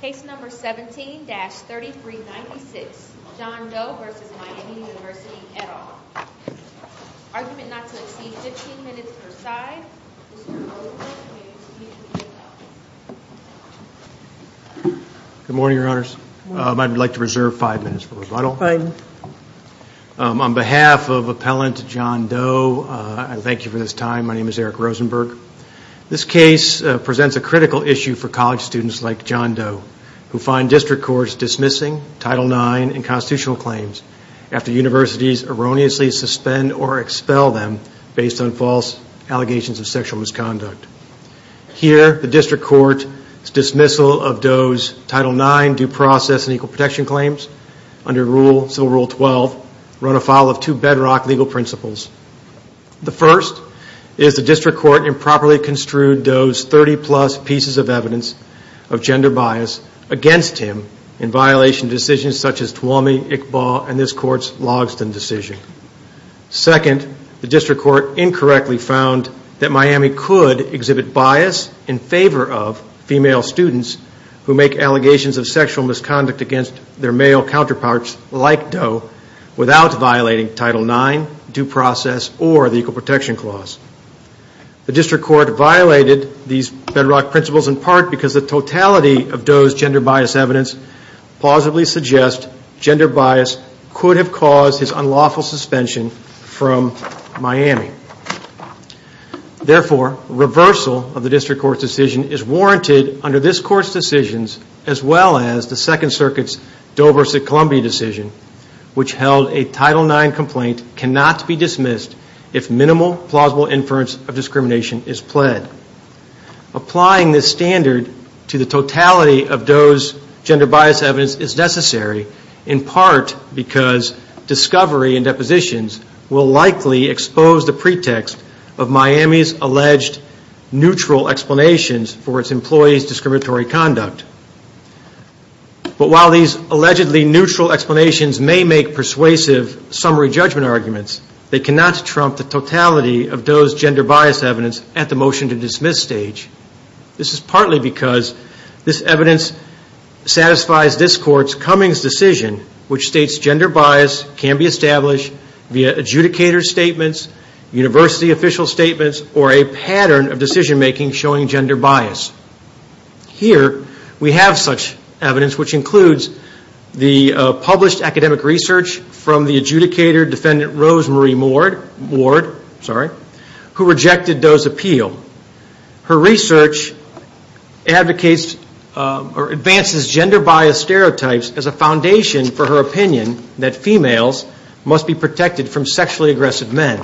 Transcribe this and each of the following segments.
Case number 17-3396, John Doe v. Miami University, et al. Argument not to exceed 15 minutes per side. Mr. Doe, you may excuse yourself. Good morning, Your Honors. I'd like to reserve five minutes for rebuttal. On behalf of Appellant John Doe, I thank you for this time. My name is Eric Rosenberg. This case presents a critical issue for college students like John Doe, who find district courts dismissing Title IX and constitutional claims after universities erroneously suspend or expel them based on false allegations of sexual misconduct. Here, the district court's dismissal of Doe's Title IX due process and equal protection claims under Civil Rule 12 run afoul of two bedrock legal principles. The first is the district court improperly construed Doe's 30-plus pieces of evidence of gender bias against him in violation of decisions such as Twomey, Iqbal, and this court's Logsdon decision. Second, the district court incorrectly found that Miami could exhibit bias in favor of female students who make allegations of sexual misconduct against their male counterparts like Doe without violating Title IX due process or the equal protection clause. The district court violated these bedrock principles in part because the totality of Doe's gender bias evidence plausibly suggests gender bias could have caused his unlawful suspension from Miami. Therefore, reversal of the district court's decision is warranted under this court's decisions as well as the Second Circuit's Doe v. Columbia decision, which held a Title IX complaint cannot be dismissed if minimal plausible inference of discrimination is pled. Applying this standard to the totality of Doe's gender bias evidence is necessary in part because discovery and depositions will likely expose the pretext of Miami's alleged neutral explanations for its employees' discriminatory conduct. But while these allegedly neutral explanations may make persuasive summary judgment arguments, they cannot trump the totality of Doe's gender bias evidence at the motion to dismiss stage. This is partly because this evidence satisfies this court's Cummings decision, which states gender bias can be established via adjudicator statements, university official statements, or a pattern of decision making showing gender bias. Here we have such evidence, which includes the published academic research from the adjudicator defendant Rose Marie Ward, who rejected Doe's appeal. Her research advocates or advances gender bias stereotypes as a foundation for her opinion that females must be protected from sexually aggressive men.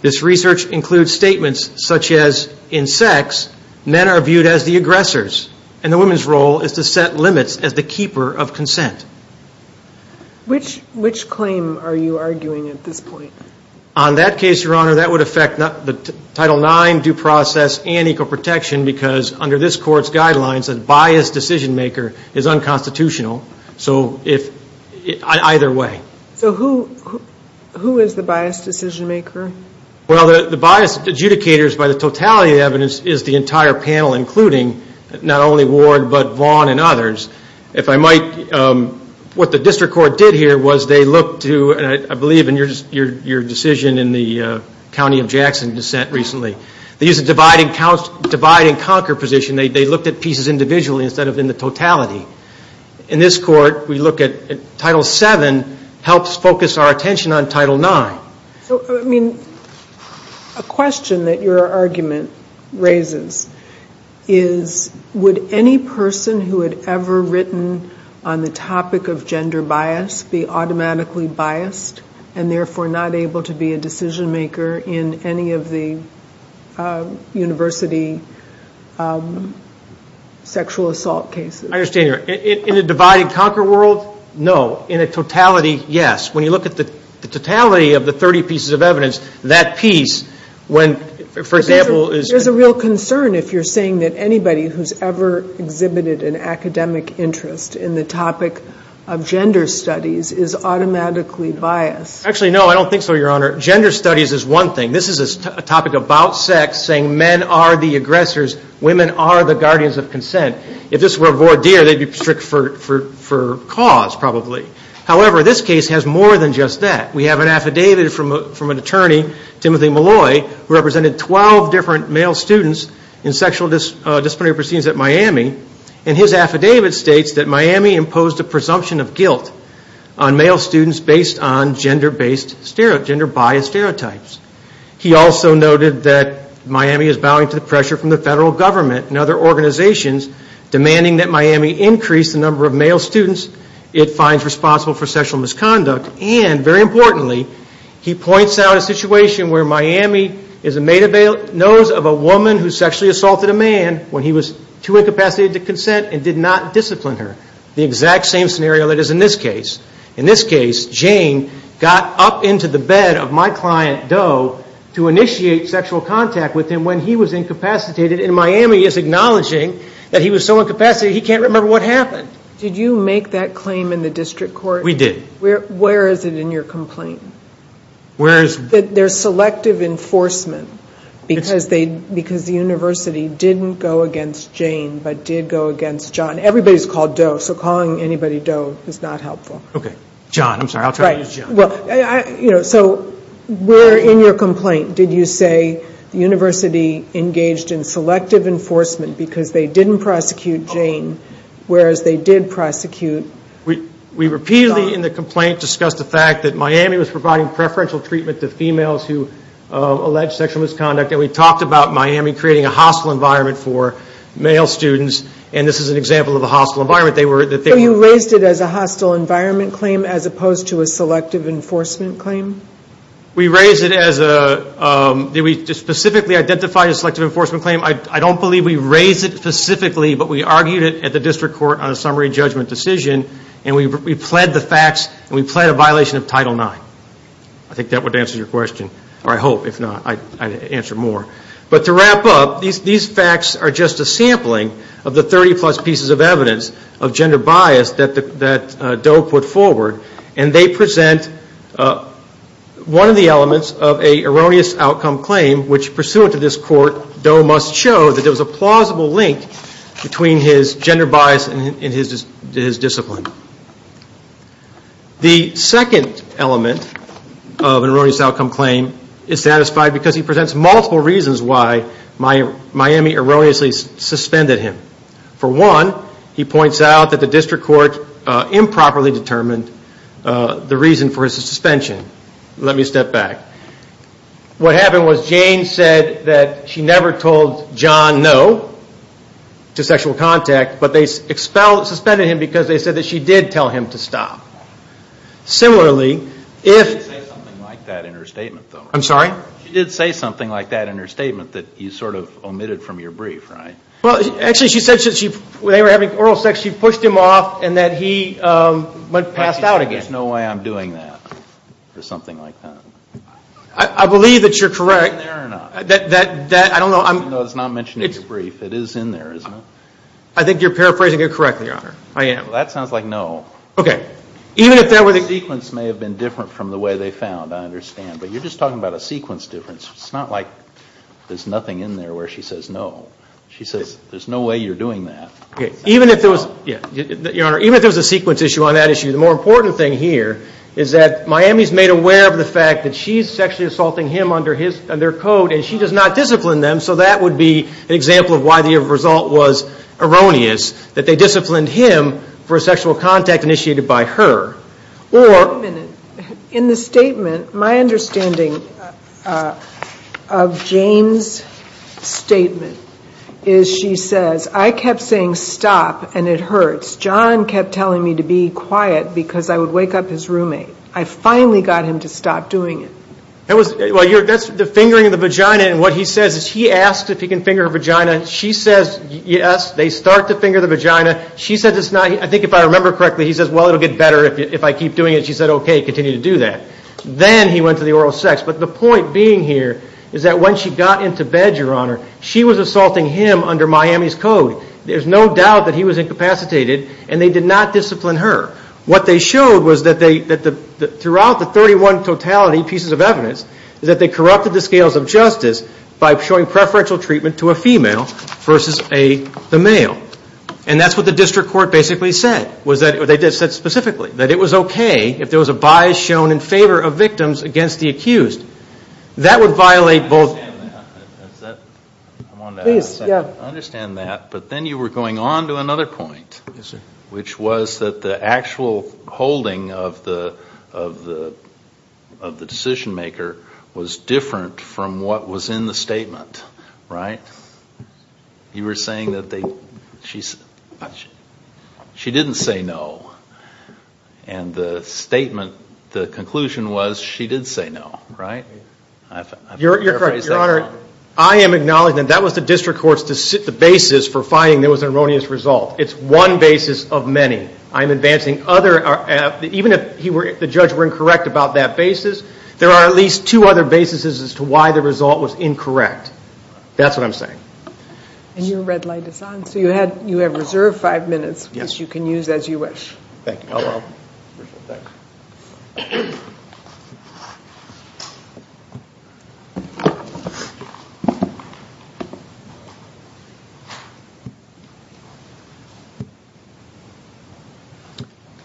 This research includes statements such as, in sex, men are viewed as the aggressors, and the woman's role is to set limits as the keeper of consent. Which claim are you arguing at this point? On that case, Your Honor, that would affect Title IX due process and equal protection because under this court's guidelines, a biased decision maker is unconstitutional. So either way. So who is the biased decision maker? Well, the biased adjudicators by the totality of the evidence is the entire panel, including not only Ward but Vaughn and others. If I might, what the district court did here was they looked to, and I believe in your decision in the County of Jackson dissent recently, they used a divide and conquer position. They looked at pieces individually instead of in the totality. In this court, we look at Title VII helps focus our attention on Title IX. So, I mean, a question that your argument raises is, would any person who had ever written on the topic of gender bias be automatically biased and therefore not able to be a decision maker in any of the university sexual assault cases? I understand. In a divide and conquer world, no. In a totality, yes. When you look at the totality of the 30 pieces of evidence, that piece, when, for example, There's a real concern if you're saying that anybody who's ever exhibited an academic interest in the topic of gender studies is automatically biased. Actually, no, I don't think so, Your Honor. Gender studies is one thing. This is a topic about sex, saying men are the aggressors, women are the guardians of consent. If this were a voir dire, they'd be strict for cause, probably. However, this case has more than just that. We have an affidavit from an attorney, Timothy Malloy, who represented 12 different male students in sexual disciplinary proceedings at Miami, and his affidavit states that Miami imposed a presumption of guilt on male students based on gender-based, gender-biased stereotypes. He also noted that Miami is bowing to the pressure from the federal government and other organizations demanding that Miami increase the number of male students it finds responsible for sexual misconduct, and, very importantly, he points out a situation where Miami is a made-up nose of a woman who sexually assaulted a man when he was too incapacitated to consent and did not discipline her. The exact same scenario that is in this case. In this case, Jane got up into the bed of my client, Doe, to initiate sexual contact with him when he was incapacitated, and Miami is acknowledging that he was so incapacitated he can't remember what happened. Did you make that claim in the district court? We did. Where is it in your complaint? That there's selective enforcement because the university didn't go against Jane but did go against John. Everybody's called Doe, so calling anybody Doe is not helpful. Okay. John, I'm sorry. I'll try to use John. So where in your complaint did you say the university engaged in selective enforcement because they didn't prosecute Jane whereas they did prosecute John? We repeatedly in the complaint discussed the fact that Miami was providing preferential treatment to females who alleged sexual misconduct, and we talked about Miami creating a hostile environment for male students, and this is an example of a hostile environment. So you raised it as a hostile environment claim as opposed to a selective enforcement claim? We raised it as a ñ we specifically identified a selective enforcement claim. I don't believe we raised it specifically, but we argued it at the district court on a summary judgment decision, and we pled the facts and we pled a violation of Title IX. I think that would answer your question, or I hope, if not, I'd answer more. But to wrap up, these facts are just a sampling of the 30-plus pieces of evidence of gender bias that Doe put forward, and they present one of the elements of an erroneous outcome claim which pursuant to this court, Doe must show that there was a plausible link between his gender bias and his discipline. The second element of an erroneous outcome claim is satisfied because he presents multiple reasons why Miami erroneously suspended him. For one, he points out that the district court improperly determined the reason for his suspension. Let me step back. What happened was Jane said that she never told John no to sexual contact, but they suspended him because they said that she did tell him to stop. Similarly, if ñ She did say something like that in her statement, though. I'm sorry? She did say something like that in her statement that you sort of omitted from your brief, right? Well, actually, she said that when they were having oral sex, she pushed him off and that he passed out again. There's no way I'm doing that or something like that. I believe that you're correct. Is it in there or not? That ñ I don't know. No, it's not mentioned in your brief. It is in there, isn't it? I think you're paraphrasing it correctly, Your Honor. I am. Well, that sounds like no. Okay. Even if there were ñ The sequence may have been different from the way they found, I understand, but you're just talking about a sequence difference. It's not like there's nothing in there where she says no. She says there's no way you're doing that. Even if there was ñ Miami's made aware of the fact that she's sexually assaulting him under their code and she does not discipline them, so that would be an example of why the result was erroneous, that they disciplined him for a sexual contact initiated by her. Or ñ Wait a minute. In the statement, my understanding of Jane's statement is she says, I kept saying stop and it hurts. John kept telling me to be quiet because I would wake up his roommate. I finally got him to stop doing it. Well, that's the fingering of the vagina, and what he says is he asks if he can finger her vagina. She says, yes, they start to finger the vagina. She says it's not ñ I think if I remember correctly, he says, well, it'll get better if I keep doing it. She said, okay, continue to do that. Then he went to the oral sex. But the point being here is that when she got into bed, Your Honor, she was assaulting him under Miami's code. There's no doubt that he was incapacitated, and they did not discipline her. What they showed was that they ñ throughout the 31 totality pieces of evidence, that they corrupted the scales of justice by showing preferential treatment to a female versus the male. And that's what the district court basically said. They said specifically that it was okay if there was a bias shown in favor of victims against the accused. That would violate both ñ I understand that. Is that ñ Please, yeah. I understand that. But then you were going on to another point. Yes, sir. Which was that the actual holding of the decision maker was different from what was in the statement, right? You were saying that they ñ she didn't say no. And the statement, the conclusion was she did say no, right? You're correct, Your Honor. Your Honor, I am acknowledging that that was the district court's ñ the basis for finding there was an erroneous result. It's one basis of many. I'm advancing other ñ even if the judge were incorrect about that basis, there are at least two other bases as to why the result was incorrect. That's what I'm saying. And your red light is on. So you have reserved five minutes, which you can use as you wish. Thank you. Oh, well. Appreciate it. Thanks.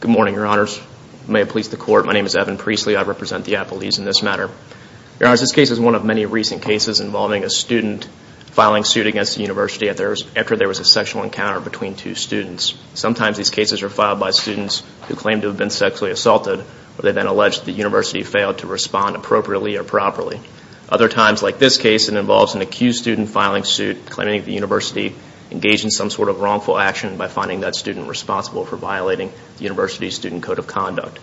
Good morning, Your Honors. May it please the Court, my name is Evan Priestley. I represent the Appalachians in this matter. Your Honors, this case is one of many recent cases involving a student filing suit against a university after there was a sexual encounter between two students. Sometimes these cases are filed by students who claim to have been sexually assaulted where they then allege the university failed to respond appropriately or properly. Other times, like this case, it involves an accused student filing suit claiming the university engaged in some sort of wrongful action by finding that student responsible for violating the university's student code of conduct.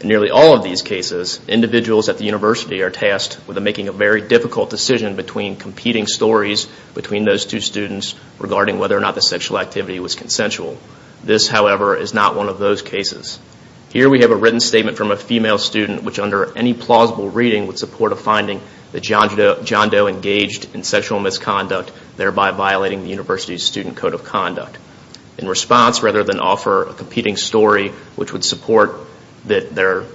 In nearly all of these cases, individuals at the university are tasked with making a very difficult decision between competing stories between those two students regarding whether or not the sexual activity was consensual. This, however, is not one of those cases. Here we have a written statement from a female student, which under any plausible reading would support a finding that John Doe engaged in sexual misconduct, thereby violating the university's student code of conduct. In response, rather than offer a competing story, which would support that the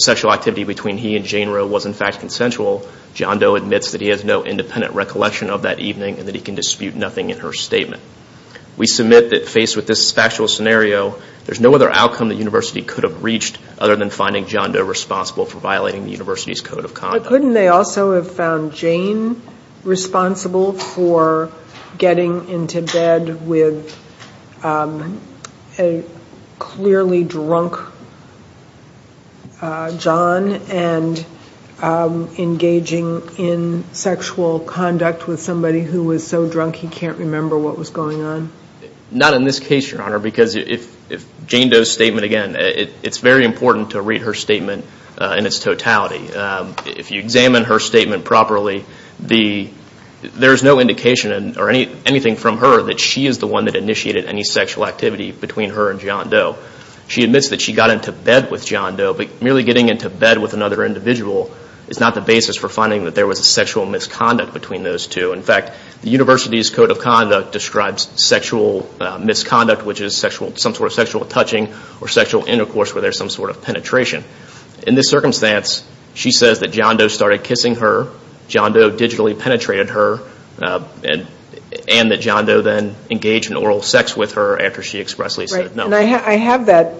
sexual activity between he and Jane Roe was in fact consensual, John Doe admits that he has no independent recollection of that evening and that he can dispute nothing in her statement. We submit that faced with this factual scenario, there's no other outcome the university could have reached other than finding John Doe responsible for violating the university's code of conduct. But couldn't they also have found Jane responsible for getting into bed with a clearly drunk John and engaging in sexual conduct with somebody who was so drunk he can't remember what was going on? Not in this case, Your Honor, because if Jane Doe's statement, again, it's very important to read her statement in its totality. If you examine her statement properly, there's no indication or anything from her that she is the one that initiated any sexual activity between her and John Doe. She admits that she got into bed with John Doe, but merely getting into bed with another individual is not the basis for finding that there was a sexual misconduct between those two. In fact, the university's code of conduct describes sexual misconduct, which is some sort of sexual touching or sexual intercourse where there's some sort of penetration. In this circumstance, she says that John Doe started kissing her, John Doe digitally penetrated her, and that John Doe then engaged in oral sex with her after she expressly said no. And I have a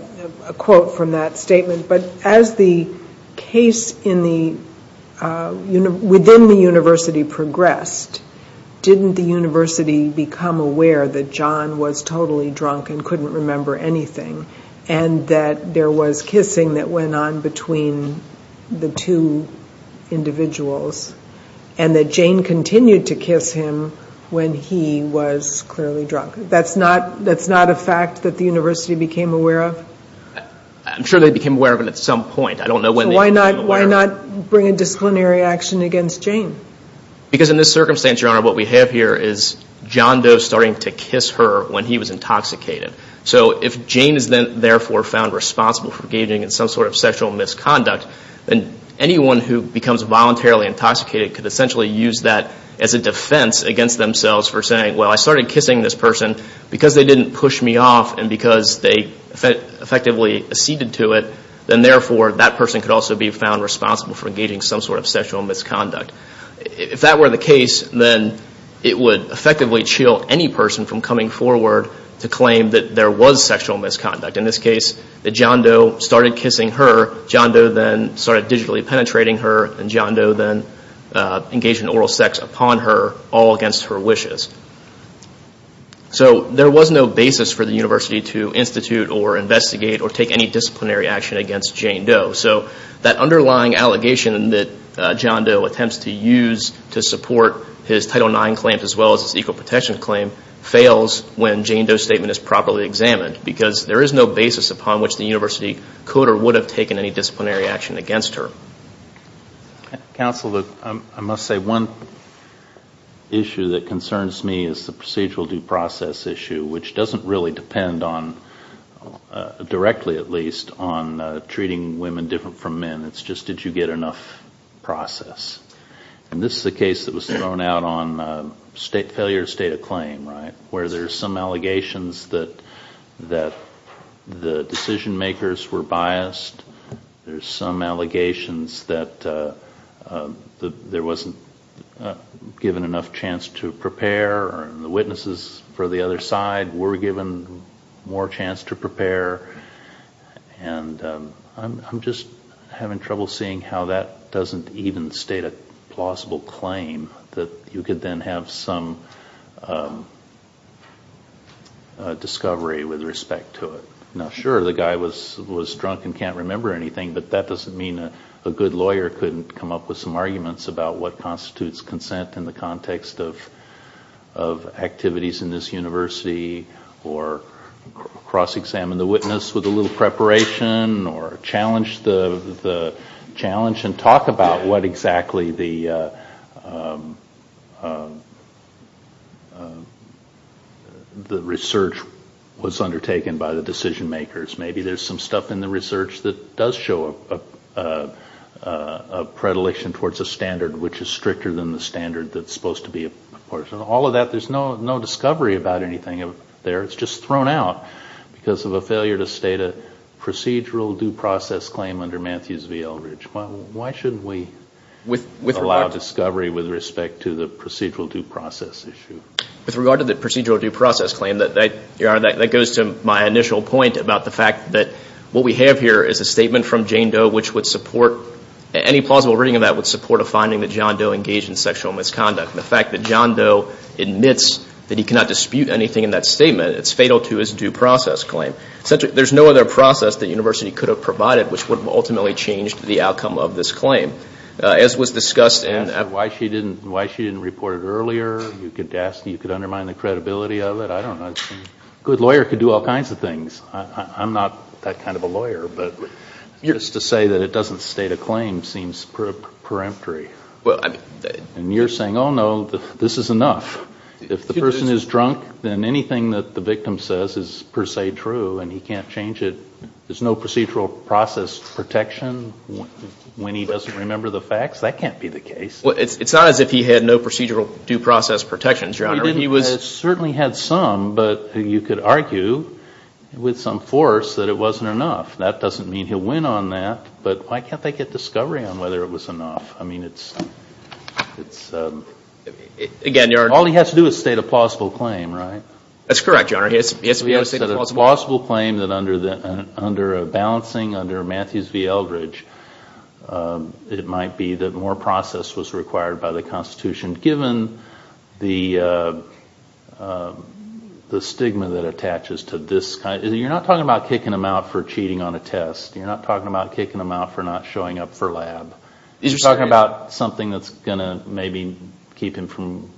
quote from that statement, but as the case within the university progressed, didn't the university become aware that John was totally drunk and couldn't remember anything, and that there was kissing that went on between the two individuals, and that Jane continued to kiss him when he was clearly drunk? That's not a fact that the university became aware of? I'm sure they became aware of it at some point. I don't know when they became aware of it. So why not bring a disciplinary action against Jane? Because in this circumstance, Your Honor, what we have here is John Doe starting to kiss her when he was intoxicated. So if Jane is then therefore found responsible for engaging in some sort of sexual misconduct, then anyone who becomes voluntarily intoxicated could essentially use that as a defense against themselves for saying, well, I started kissing this person because they didn't push me off and because they effectively acceded to it, then therefore that person could also be found responsible for engaging in some sort of sexual misconduct. If that were the case, then it would effectively chill any person from coming forward to claim that there was sexual misconduct. In this case, that John Doe started kissing her, John Doe then started digitally penetrating her, and John Doe then engaged in oral sex upon her all against her wishes. So there was no basis for the university to institute or investigate or take any disciplinary action against Jane Doe. So that underlying allegation that John Doe attempts to use to support his Title IX claims as well as his Equal Protection claim fails when Jane Doe's statement is properly examined because there is no basis upon which the university could or would have taken any disciplinary action against her. Counsel, I must say one issue that concerns me is the procedural due process issue, which doesn't really depend on, directly at least, on treating women different from men. It's just did you get enough process. And this is a case that was thrown out on failure to state a claim, right, where there's some allegations that the decision-makers were biased. There's some allegations that there wasn't given enough chance to prepare, or the witnesses for the other side were given more chance to prepare. And I'm just having trouble seeing how that doesn't even state a plausible claim, that you could then have some discovery with respect to it. Now, sure, the guy was drunk and can't remember anything, but that doesn't mean a good lawyer couldn't come up with some arguments about what constitutes consent in the context of activities in this university or cross-examine the witness with a little preparation or challenge the challenge and talk about what exactly the research was undertaken by the decision-makers. Maybe there's some stuff in the research that does show a predilection towards a standard which is stricter than the standard that's supposed to be apportioned. All of that, there's no discovery about anything there. It's just thrown out because of a failure to state a procedural due process claim under Matthews v. Eldridge. Why shouldn't we allow discovery with respect to the procedural due process issue? With regard to the procedural due process claim, that goes to my initial point about the fact that what we have here is a statement from Jane Doe which would support, any plausible reading of that would support a finding that John Doe engaged in sexual misconduct. The fact that John Doe admits that he cannot dispute anything in that statement, it's fatal to his due process claim. Essentially, there's no other process the university could have provided which would have ultimately changed the outcome of this claim. As was discussed in why she didn't report it earlier, you could undermine the credibility of it. I don't know. A good lawyer could do all kinds of things. I'm not that kind of a lawyer, but just to say that it doesn't state a claim seems preemptory. And you're saying, oh, no, this is enough. If the person is drunk, then anything that the victim says is per se true and he can't change it. There's no procedural process protection when he doesn't remember the facts. That can't be the case. Well, it's not as if he had no procedural due process protections, Your Honor. He certainly had some, but you could argue with some force that it wasn't enough. That doesn't mean he'll win on that, but why can't they get discovery on whether it was enough? I mean, all he has to do is state a plausible claim, right? That's correct, Your Honor. He has to state a plausible claim that under a balancing under Matthews v. Eldridge, it might be that more process was required by the Constitution given the stigma that attaches to this. You're not talking about kicking him out for cheating on a test. You're not talking about kicking him out for not showing up for lab. You're talking about something that's going to maybe keep him from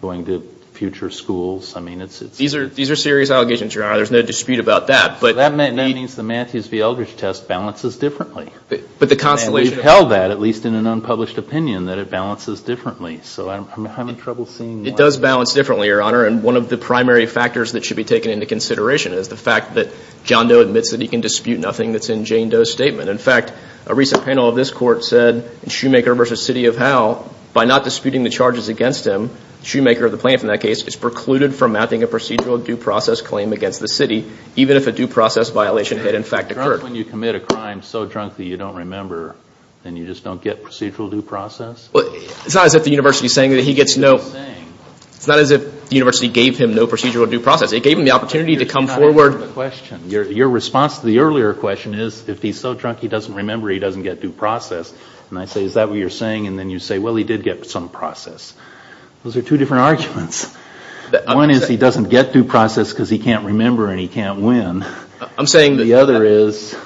going to future schools. I mean, it's... These are serious allegations, Your Honor. There's no dispute about that, but... That means the Matthews v. Eldridge test balances differently. But the Constellation... And we've held that, at least in an unpublished opinion, that it balances differently. So I'm having trouble seeing why... It does balance differently, Your Honor, and one of the primary factors that should be taken into consideration is the fact that John Doe admits that he can dispute nothing that's in Jane Doe's statement. In fact, a recent panel of this Court said in Shoemaker v. City of Howe, by not disputing the charges against him, Shoemaker, the plaintiff in that case, is precluded from mapping a procedural due process claim against the city, even if a due process violation had, in fact, occurred. When you commit a crime so drunk that you don't remember, then you just don't get procedural due process? It's not as if the university is saying that he gets no... What are you saying? It's not as if the university gave him no procedural due process. It gave him the opportunity to come forward... You're just not answering the question. Your response to the earlier question is, if he's so drunk he doesn't remember, he doesn't get due process. And I say, is that what you're saying? And then you say, well, he did get some process. Those are two different arguments. One is he doesn't get due process because he can't remember and he can't win. I'm saying that... The other is...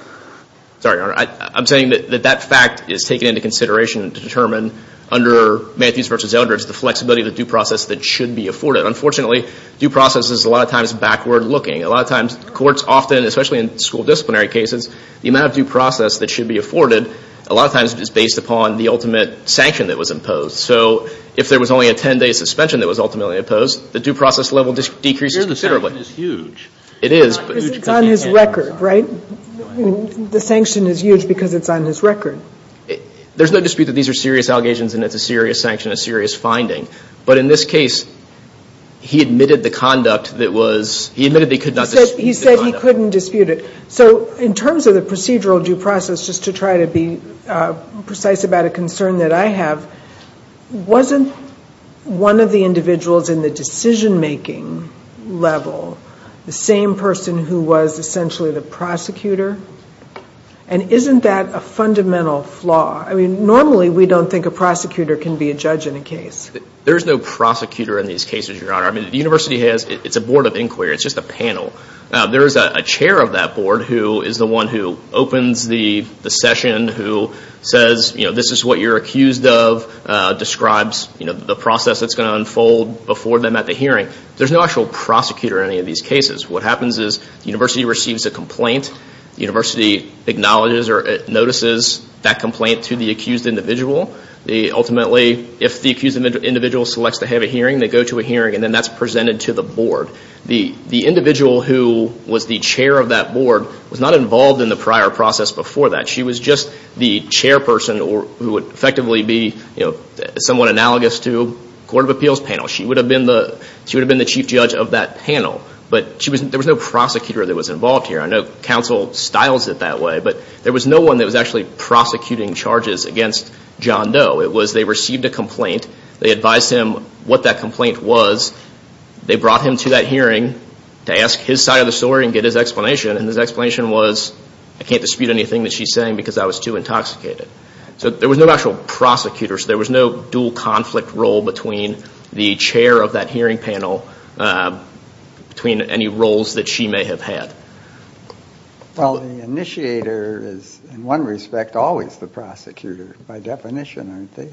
Sorry, Your Honor. I'm saying that that fact is taken into consideration to determine under Matthews v. Eldridge the flexibility of the due process that should be afforded. Unfortunately, due process is a lot of times backward-looking. A lot of times courts often, especially in school disciplinary cases, the amount of due process that should be afforded a lot of times is based upon the ultimate sanction that was imposed. So if there was only a 10-day suspension that was ultimately imposed, the due process level decreases considerably. The sanction is huge. It is. Because it's on his record, right? The sanction is huge because it's on his record. There's no dispute that these are serious allegations and it's a serious sanction, a serious finding. But in this case, he admitted the conduct that was... He admitted he could not dispute the conduct. He said he couldn't dispute it. So in terms of the procedural due process, just to try to be precise about a concern that I have, wasn't one of the individuals in the decision-making level the same person who was essentially the prosecutor? And isn't that a fundamental flaw? I mean, normally we don't think a prosecutor can be a judge in a case. There is no prosecutor in these cases, Your Honor. I mean, the university has... It's a board of inquiry. It's just a panel. There is a chair of that board who is the one who opens the session, who says, you know, this is what you're accused of, describes the process that's going to unfold before them at the hearing. There's no actual prosecutor in any of these cases. What happens is the university receives a complaint. The university acknowledges or notices that complaint to the accused individual. Ultimately, if the accused individual selects to have a hearing, they go to a hearing, and then that's presented to the board. The individual who was the chair of that board was not involved in the prior process before that. She was just the chairperson who would effectively be somewhat analogous to a court of appeals panel. She would have been the chief judge of that panel. But there was no prosecutor that was involved here. I know counsel styles it that way, but there was no one that was actually prosecuting charges against John Doe. It was they received a complaint. They advised him what that complaint was. They brought him to that hearing to ask his side of the story and get his explanation. And his explanation was, I can't dispute anything that she's saying because I was too intoxicated. So there was no actual prosecutor. So there was no dual conflict role between the chair of that hearing panel, between any roles that she may have had. Well, the initiator is, in one respect, always the prosecutor by definition, aren't they?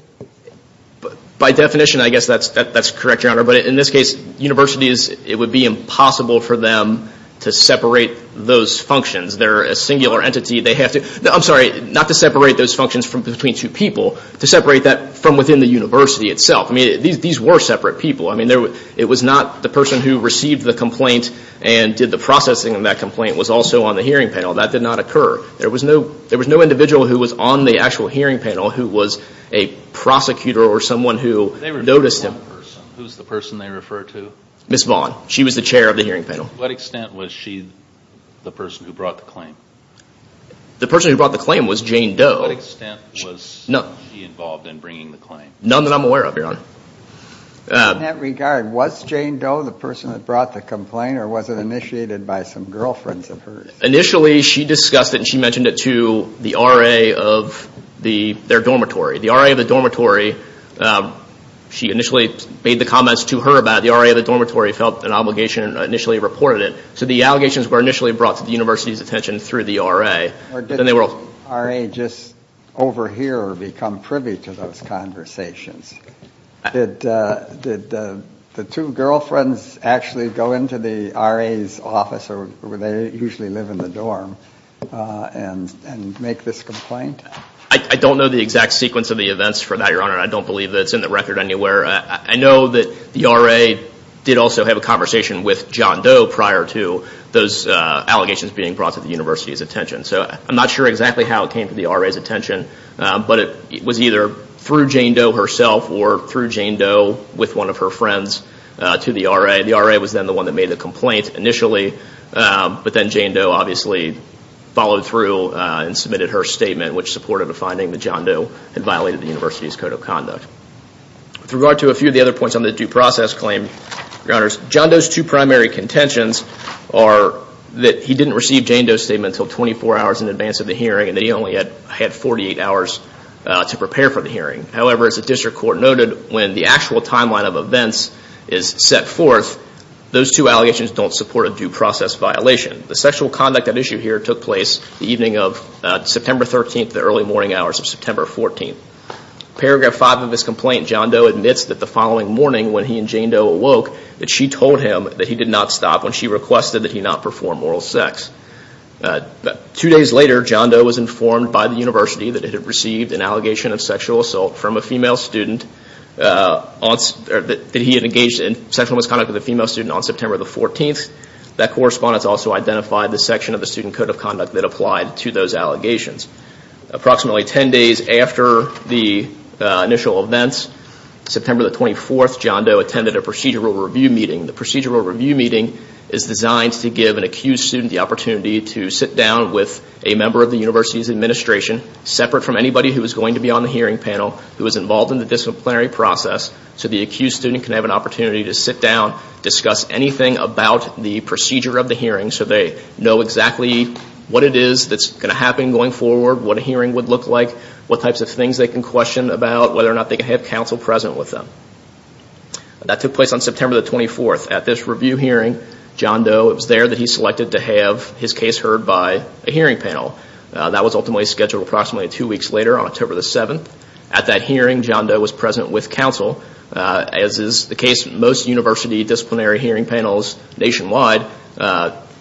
By definition, I guess that's correct, Your Honor. But in this case, universities, it would be impossible for them to separate those functions. They're a singular entity. I'm sorry, not to separate those functions between two people, to separate that from within the university itself. I mean, these were separate people. I mean, it was not the person who received the complaint and did the processing of that complaint was also on the hearing panel. That did not occur. There was no individual who was on the actual hearing panel who was a prosecutor or someone who noticed him. Who's the person they refer to? Ms. Vaughn. She was the chair of the hearing panel. To what extent was she the person who brought the claim? The person who brought the claim was Jane Doe. To what extent was she involved in bringing the claim? None that I'm aware of, Your Honor. In that regard, was Jane Doe the person that brought the complaint or was it initiated by some girlfriends of hers? Initially, she discussed it and she mentioned it to the RA of their dormitory. The RA of the dormitory, she initially made the comments to her about it. The RA of the dormitory felt an obligation and initially reported it. So the allegations were initially brought to the university's attention through the RA. Or did the RA just overhear or become privy to those conversations? Did the two girlfriends actually go into the RA's office where they usually live in the dorm and make this complaint? I don't know the exact sequence of the events for that, Your Honor. I don't believe that it's in the record anywhere. I know that the RA did also have a conversation with John Doe prior to those allegations being brought to the university's attention. So I'm not sure exactly how it came to the RA's attention, but it was either through Jane Doe herself or through Jane Doe with one of her friends to the RA. The RA was then the one that made the complaint initially, but then Jane Doe obviously followed through and submitted her statement, which supported the finding that John Doe had violated the university's code of conduct. With regard to a few of the other points on the due process claim, Your Honors, John Doe's two primary contentions are that he didn't receive Jane Doe's statement until 24 hours in advance of the hearing and that he only had 48 hours to prepare for the hearing. However, as the district court noted, when the actual timeline of events is set forth, those two allegations don't support a due process violation. The sexual conduct at issue here took place the evening of September 13th to the early morning hours of September 14th. Paragraph 5 of this complaint, John Doe admits that the following morning, when he and Jane Doe awoke, that she told him that he did not stop when she requested that he not perform oral sex. Two days later, John Doe was informed by the university that he had received an allegation of sexual assault from a female student that he had engaged in sexual misconduct with a female student on September 14th. That correspondence also identified the section of the student code of conduct that applied to those allegations. Approximately 10 days after the initial events, September 24th, John Doe attended a procedural review meeting. The procedural review meeting is designed to give an accused student the opportunity to sit down with a member of the university's administration, separate from anybody who was going to be on the hearing panel, who was involved in the disciplinary process, so the accused student can have an opportunity to sit down, discuss anything about the procedure of the hearing so they know exactly what it is that's going to happen going forward, what a hearing would look like, what types of things they can question about, whether or not they can have counsel present with them. That took place on September 24th. At this review hearing, John Doe was there that he selected to have his case heard by a hearing panel. That was ultimately scheduled approximately two weeks later, on October 7th. At that hearing, John Doe was present with counsel. As is the case with most university disciplinary hearing panels nationwide,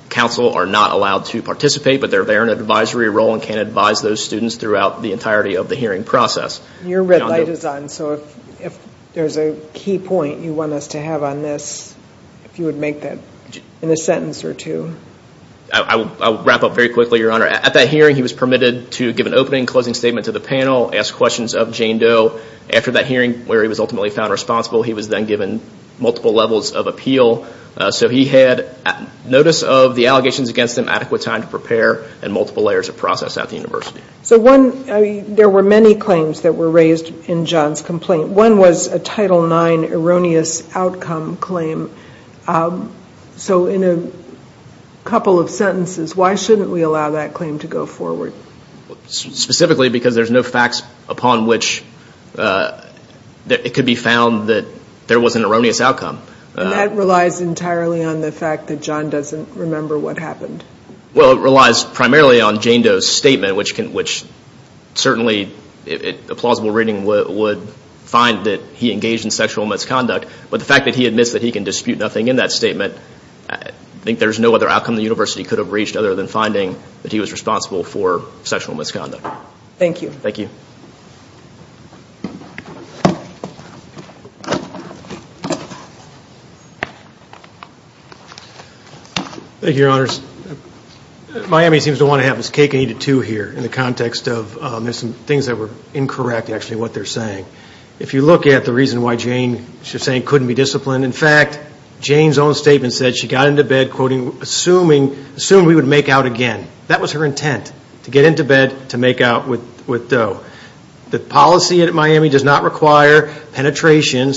counsel are not allowed to participate, but they're there in an advisory role and can advise those students throughout the entirety of the hearing process. Your red light is on, so if there's a key point you want us to have on this, if you would make that in a sentence or two. I'll wrap up very quickly, Your Honor. At that hearing, he was permitted to give an opening, closing statement to the panel, ask questions of Jane Doe. After that hearing, where he was ultimately found responsible, he was then given multiple levels of appeal. So he had notice of the allegations against him, adequate time to prepare, and multiple layers of process at the university. There were many claims that were raised in John's complaint. One was a Title IX erroneous outcome claim. So in a couple of sentences, why shouldn't we allow that claim to go forward? Specifically because there's no facts upon which it could be found that there was an erroneous outcome. And that relies entirely on the fact that John doesn't remember what happened. Well, it relies primarily on Jane Doe's statement, which certainly a plausible reading would find that he engaged in sexual misconduct. But the fact that he admits that he can dispute nothing in that statement, I think there's no other outcome the university could have reached other than finding that he was responsible for sexual misconduct. Thank you. Thank you. Thank you, Your Honors. Miami seems to want to have its cake and eat it too here, in the context of there's some things that were incorrect, actually, what they're saying. If you look at the reason why Jane, she was saying, couldn't be disciplined. In fact, Jane's own statement said she got into bed, quoting, assuming we would make out again. That was her intent, to get into bed, to make out with Doe. The policy at Miami does not require penetration,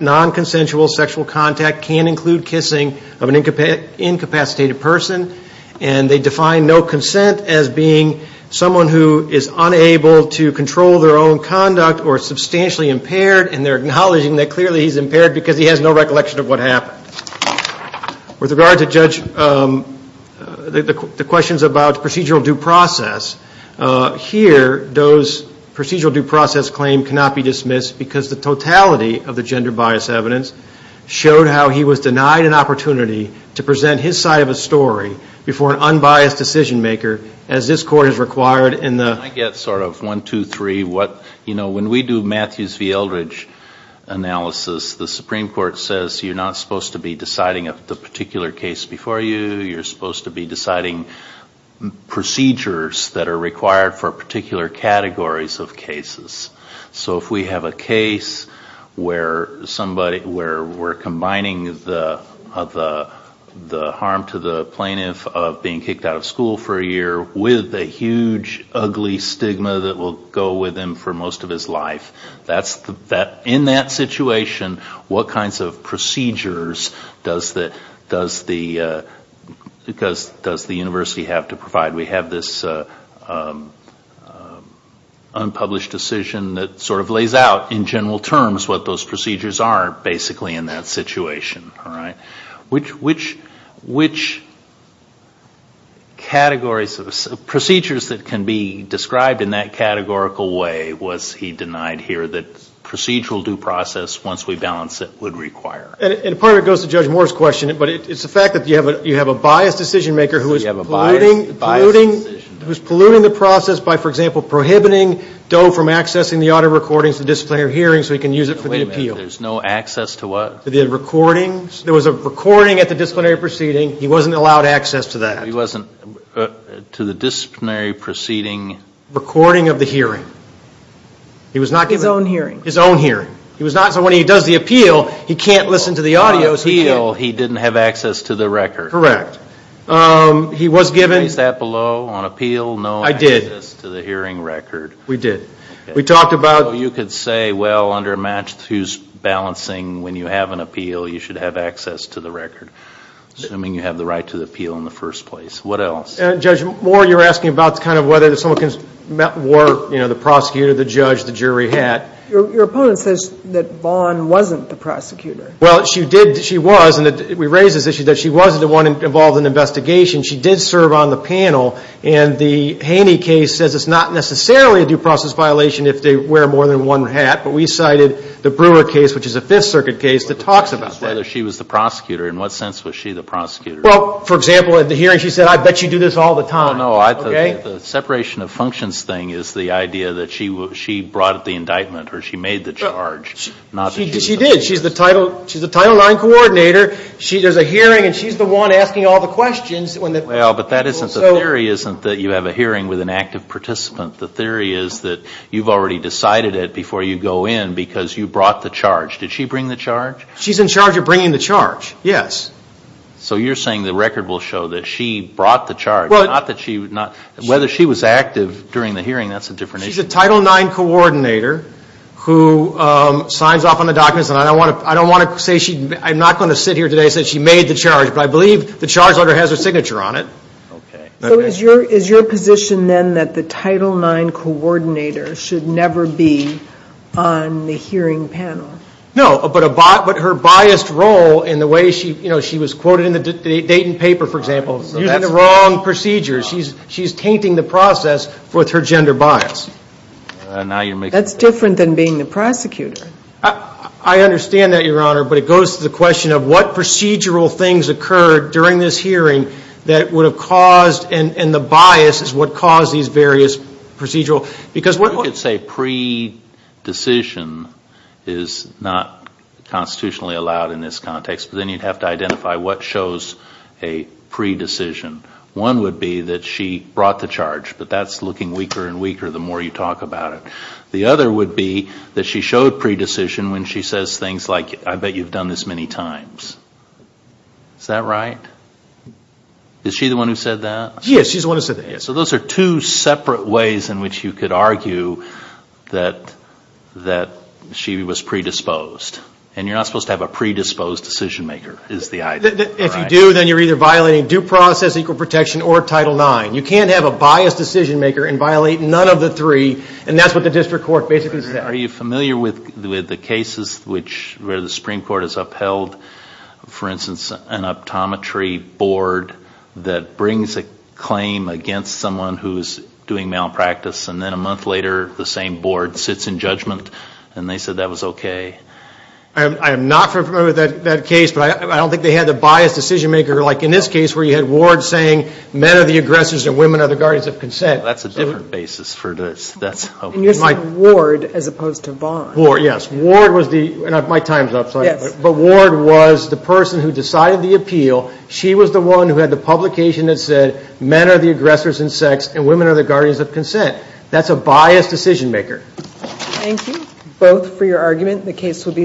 non-consensual sexual contact can include kissing of an incapacitated person. And they define no consent as being someone who is unable to control their own conduct or is substantially impaired, and they're acknowledging that clearly he's impaired because he has no recollection of what happened. With regard to Judge, the questions about procedural due process, here, Doe's procedural due process claim cannot be dismissed because the totality of the gender bias evidence showed how he was denied an opportunity to present his side of a story before an unbiased decision maker, as this Court has required in the. Can I get sort of one, two, three, what, you know, when we do Matthews v. Eldridge analysis, the Supreme Court says you're not supposed to be deciding the particular case before you, you're supposed to be deciding procedures that are required for particular categories of cases. So if we have a case where somebody, where we're combining the harm to the plaintiff of being kicked out of school for a year with a huge, ugly stigma that will go with him for most of his life, in that situation, what kinds of procedures does the university have to provide? We have this unpublished decision that sort of lays out in general terms what those procedures are basically in that situation, all right? Which categories of procedures that can be described in that categorical way was he denied here that procedural due process, once we balance it, would require? And part of it goes to Judge Moore's question, but it's the fact that you have a biased decision maker who is polluting the process by, for example, prohibiting Doe from accessing the audio recordings of the disciplinary hearing so he can use it for the appeal. Wait a minute. There's no access to what? The recordings. There was a recording at the disciplinary proceeding. He wasn't allowed access to that. He wasn't, to the disciplinary proceeding? Recording of the hearing. His own hearing. His own hearing. He was not, so when he does the appeal, he can't listen to the audio. The appeal, he didn't have access to the record. Correct. He was given. Place that below on appeal, no access to the hearing record. I did. We did. We talked about. So you could say, well, under a match who's balancing, when you have an appeal, you should have access to the record. Assuming you have the right to the appeal in the first place. What else? Judge Moore, you were asking about kind of whether someone can, you know, the prosecutor, the judge, the jury had. Your opponent says that Vaughn wasn't the prosecutor. Well, she did. She was. And we raised this issue that she wasn't the one involved in the investigation. She did serve on the panel. And the Haney case says it's not necessarily a due process violation if they wear more than one hat. But we cited the Brewer case, which is a Fifth Circuit case that talks about that. Whether she was the prosecutor. In what sense was she the prosecutor? Well, for example, at the hearing, she said, I bet you do this all the time. No, no. The separation of functions thing is the idea that she brought the indictment or she made the charge. She did. She's the Title IX coordinator. There's a hearing, and she's the one asking all the questions. Well, but that isn't the theory, isn't that you have a hearing with an active participant? The theory is that you've already decided it before you go in because you brought the charge. Did she bring the charge? She's in charge of bringing the charge. Yes. So you're saying the record will show that she brought the charge. Whether she was active during the hearing, that's a different issue. She's a Title IX coordinator who signs off on the documents. And I don't want to say she – I'm not going to sit here today and say she made the charge. But I believe the charge letter has her signature on it. Okay. So is your position then that the Title IX coordinator should never be on the hearing panel? No. But her biased role in the way she – you know, she was quoted in the Dayton paper, for example. So that's the wrong procedure. She's tainting the process with her gender bias. That's different than being the prosecutor. I understand that, Your Honor. But it goes to the question of what procedural things occurred during this hearing that would have caused – and the bias is what caused these various procedural – because what – You could say pre-decision is not constitutionally allowed in this context. But then you'd have to identify what shows a pre-decision. One would be that she brought the charge. But that's looking weaker and weaker the more you talk about it. The other would be that she showed pre-decision when she says things like, I bet you've done this many times. Is that right? Is she the one who said that? Yes, she's the one who said that. So those are two separate ways in which you could argue that she was pre-disposed. And you're not supposed to have a pre-disposed decision-maker is the idea. If you do, then you're either violating due process, equal protection, or Title IX. You can't have a biased decision-maker and violate none of the three, and that's what the district court basically says. Are you familiar with the cases where the Supreme Court has upheld, for instance, an optometry board that brings a claim against someone who is doing malpractice, and then a month later the same board sits in judgment and they said that was okay? I am not familiar with that case, but I don't think they had the biased decision-maker, like in this case where you had Ward saying men are the aggressors and women are the guardians of consent. That's a different basis for this. And you're saying Ward as opposed to Vaughn. Ward, yes. Ward was the, and my time's up, sorry. But Ward was the person who decided the appeal. She was the one who had the publication that said men are the aggressors in sex and women are the guardians of consent. That's a biased decision-maker. Thank you both for your argument. The case will be submitted.